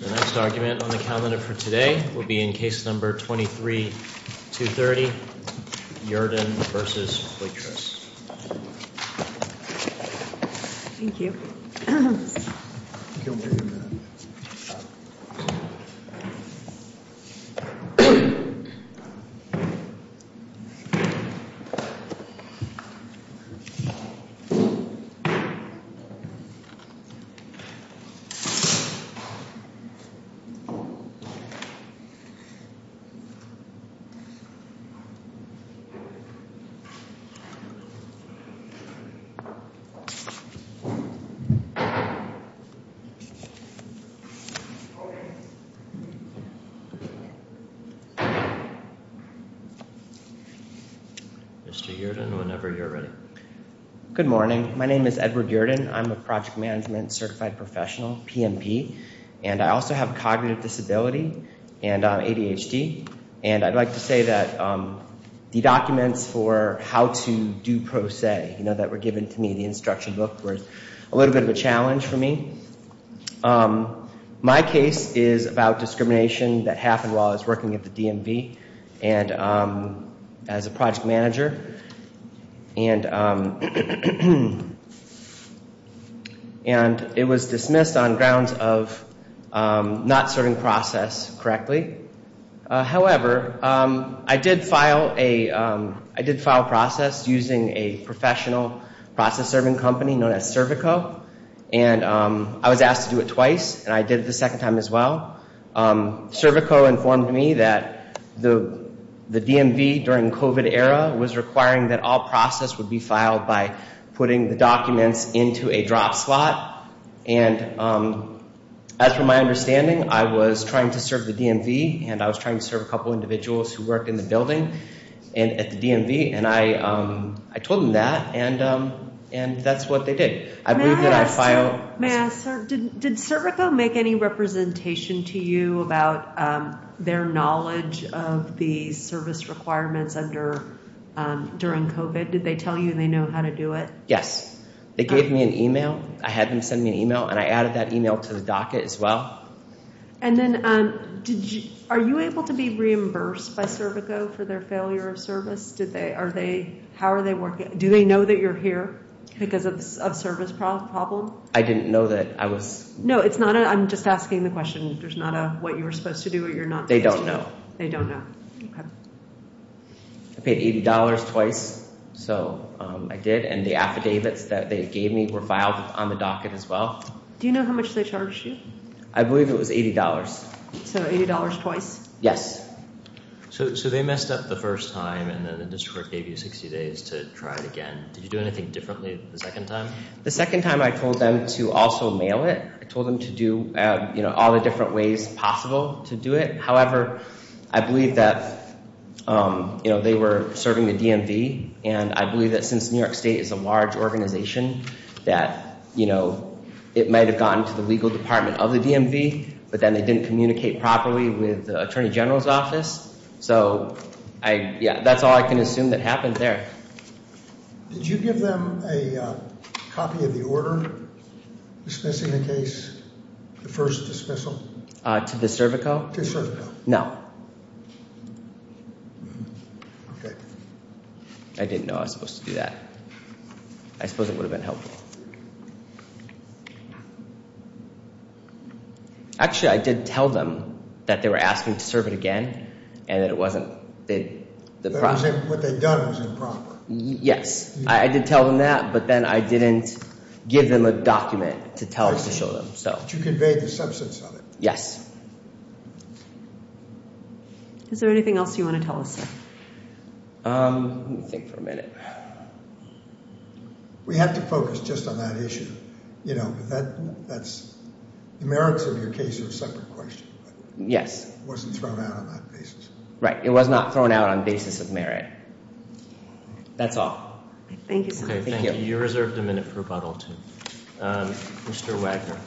The next argument on the calendar for today will be in case number 23-230, Yerdon v. Poitras. Mr. Yerdon, whenever you're ready. Good morning. My name is Edward Yerdon. I'm a project management certified professional, PMP, and I also have a cognitive disability and ADHD. And I'd like to say that the documents for how to do pro se that were given to me, the instruction book, were a little bit of a challenge for me. My case is about discrimination that happened while I was working at the DMV as a project manager. And it was dismissed on grounds of not serving process correctly. However, I did file a process using a professional process serving company known as Servico. And I was asked to do it twice, and I did it the second time as well. Servico informed me that the DMV during the COVID era was requiring that all process would be filed by putting the documents into a drop slot. And as from my understanding, I was trying to serve the DMV, and I was trying to serve a couple individuals who worked in the building at the DMV. And I told them that, and that's what they did. Did Servico make any representation to you about their knowledge of the service requirements during COVID? Did they tell you they know how to do it? Yes. They gave me an email. I had them send me an email, and I added that email to the docket as well. And then are you able to be reimbursed by Servico for their failure of service? How are they working? Do they know that you're here because of a service problem? I didn't know that I was— No, it's not a—I'm just asking the question. There's not a what you were supposed to do or you're not supposed to do. They don't know. They don't know. Okay. I paid $80 twice, so I did, and the affidavits that they gave me were filed on the docket as well. Do you know how much they charged you? I believe it was $80. So $80 twice? Yes. So they messed up the first time, and then the district gave you 60 days to try it again. Did you do anything differently the second time? The second time I told them to also mail it. I told them to do all the different ways possible to do it. However, I believe that, you know, they were serving the DMV, and I believe that since New York State is a large organization that, you know, it might have gotten to the legal department of the DMV, but then they didn't communicate properly with the attorney general's office. So, yeah, that's all I can assume that happened there. Did you give them a copy of the order dismissing the case, the first dismissal? To the Servico? To Servico. No. Okay. I didn't know I was supposed to do that. I suppose it would have been helpful. Actually, I did tell them that they were asking to serve it again and that it wasn't the proper. What they'd done was improper. Yes. I did tell them that, but then I didn't give them a document to tell them, to show them. But you conveyed the substance of it. Yes. Is there anything else you want to tell us, sir? Let me think for a minute. We have to focus just on that issue. You know, the merits of your case are a separate question. Yes. It wasn't thrown out on that basis. Right. It was not thrown out on basis of merit. That's all. Thank you, sir. Thank you. You're reserved a minute for rebuttal, too. Mr. Wagner.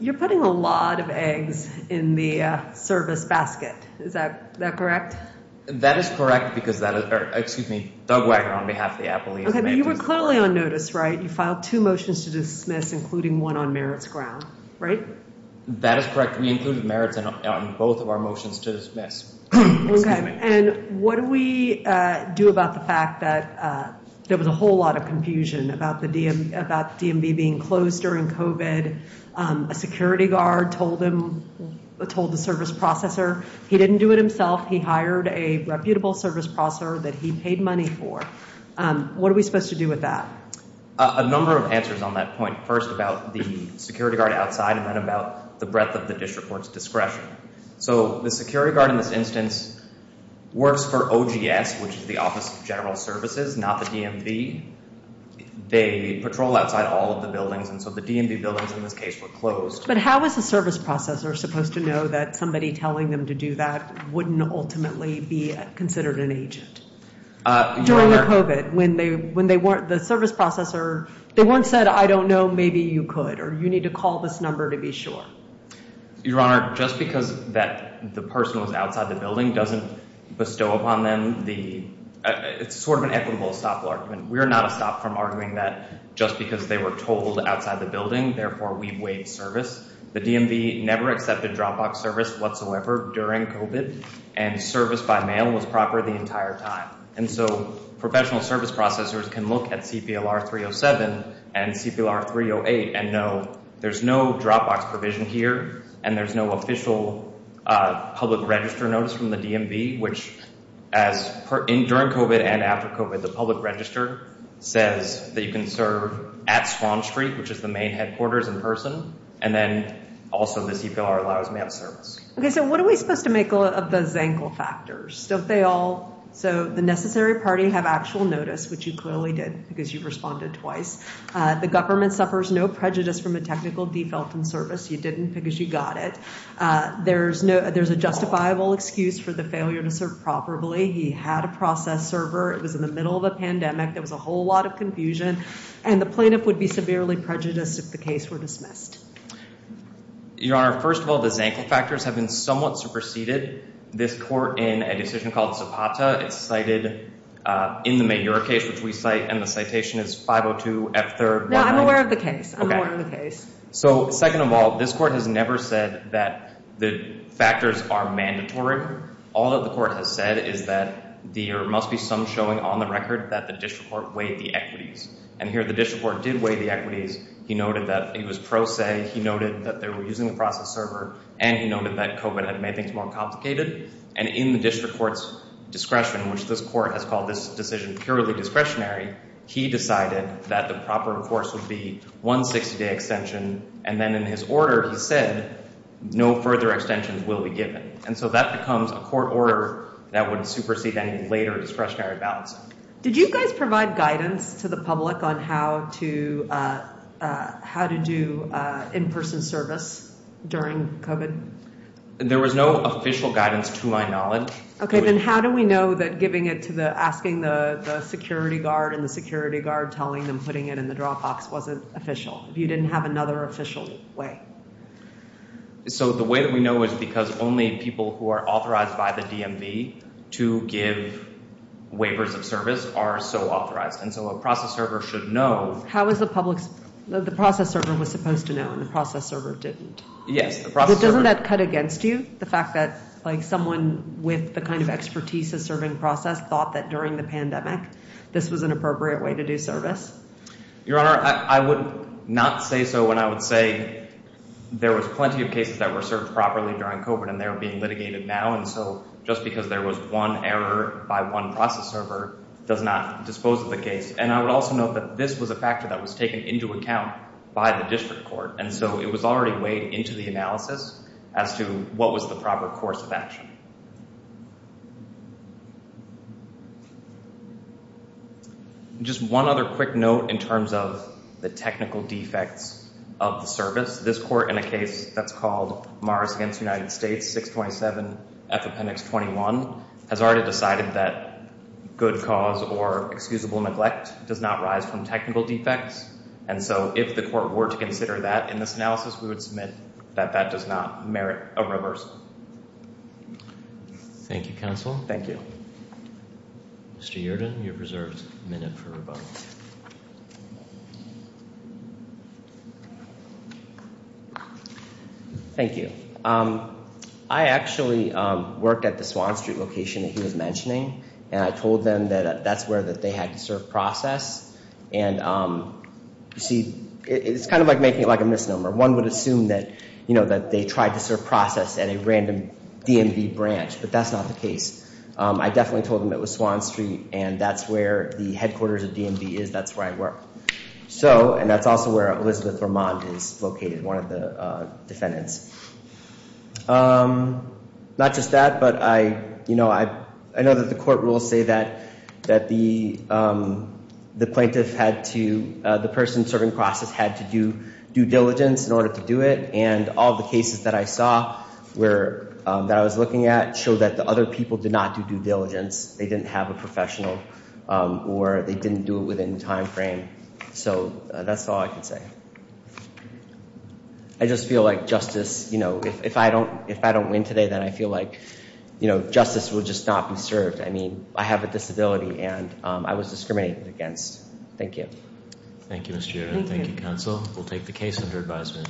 You're putting a lot of eggs in the service basket. Is that correct? That is correct, because that is, or excuse me, Doug Wagner on behalf of the Appalachian. You were clearly on notice, right? You filed two motions to dismiss, including one on merits ground. Right? That is correct. We included merits on both of our motions to dismiss. Okay. And what do we do about the fact that there was a whole lot of confusion about the DMV being closed during COVID? A security guard told him, told the service processor he didn't do it himself. He hired a reputable service processor that he paid money for. What are we supposed to do with that? A number of answers on that point. First, about the security guard outside and then about the breadth of the district court's discretion. So the security guard in this instance works for OGS, which is the Office of General Services, not the DMV. They patrol outside all of the buildings. And so the DMV buildings in this case were closed. But how was the service processor supposed to know that somebody telling them to do that wouldn't ultimately be considered an agent? During the COVID, when they weren't, the service processor, they weren't said, I don't know, maybe you could, or you need to call this number to be sure. Your Honor, just because that the person was outside the building doesn't bestow upon them the, it's sort of an equitable stop argument. We are not a stop from arguing that just because they were told outside the building, therefore we waived service. The DMV never accepted Dropbox service whatsoever during COVID. And service by mail was proper the entire time. And so professional service processors can look at CPLR 307 and CPLR 308 and know there's no Dropbox provision here. And there's no official public register notice from the DMV. During COVID and after COVID, the public register says that you can serve at Swan Street, which is the main headquarters in person. And then also the CPLR allows mail service. Okay, so what are we supposed to make of those ankle factors? So they all, so the necessary party have actual notice, which you clearly did because you responded twice. The government suffers no prejudice from a technical default in service. You didn't because you got it. There's no, there's a justifiable excuse for the failure to serve properly. He had a process server. It was in the middle of a pandemic. There was a whole lot of confusion. And the plaintiff would be severely prejudiced if the case were dismissed. Your Honor, first of all, the Zankin factors have been somewhat superseded. This court in a decision called Zapata, it's cited in the major case, which we cite. And the citation is 502 F third. I'm aware of the case. So second of all, this court has never said that the factors are mandatory. All of the court has said is that there must be some showing on the record that the district court weighed the equities. And here the district court did weigh the equities. He noted that he was pro se. He noted that they were using the process server. And he noted that COVID had made things more complicated. And in the district court's discretion, which this court has called this decision purely discretionary. He decided that the proper course would be 160 day extension. And then in his order, he said no further extensions will be given. And so that becomes a court order that would supersede any later discretionary ballots. Did you guys provide guidance to the public on how to do in-person service during COVID? There was no official guidance to my knowledge. Okay. Then how do we know that giving it to the asking the security guard and the security guard telling them putting it in the drop box wasn't official? If you didn't have another official way? So the way that we know is because only people who are authorized by the DMV to give waivers of service are so authorized. And so a process server should know. How is the public the process server was supposed to know and the process server didn't? Yes. Doesn't that cut against you? The fact that like someone with the kind of expertise of serving process thought that during the pandemic, this was an appropriate way to do service. Your Honor, I would not say so when I would say there was plenty of cases that were served properly during COVID and they're being litigated now. And so just because there was one error by one process server does not dispose of the case. And I would also note that this was a factor that was taken into account by the district court. And so it was already weighed into the analysis as to what was the proper course of action. Just one other quick note in terms of the technical defects of the service. This court in a case that's called Morris against United States 627 F Appendix 21 has already decided that good cause or excusable neglect does not rise from technical defects. And so if the court were to consider that in this analysis, we would submit that that does not merit a reversal. Thank you, counsel. Thank you. Mr. Yerden, you have reserved a minute for rebuttal. Thank you. I actually worked at the Swan Street location that he was mentioning, and I told them that that's where that they had to serve process. And you see, it's kind of like making it like a misnomer. One would assume that, you know, that they tried to serve process at a random DMV branch, but that's not the case. I definitely told them it was Swan Street and that's where the headquarters of DMV is. That's where I work. So and that's also where Elizabeth Vermont is located, one of the defendants. Not just that, but I, you know, I know that the court will say that that the the plaintiff had to the person serving process had to do due diligence in order to do it. And all the cases that I saw were that I was looking at show that the other people did not do due diligence. They didn't have a professional or they didn't do it within the time frame. So that's all I can say. I just feel like justice, you know, if I don't if I don't win today, then I feel like, you know, justice will just not be served. I mean, I have a disability and I was discriminated against. Thank you. Thank you, Mr. Yerden. Thank you, counsel. We'll take the case under advisement.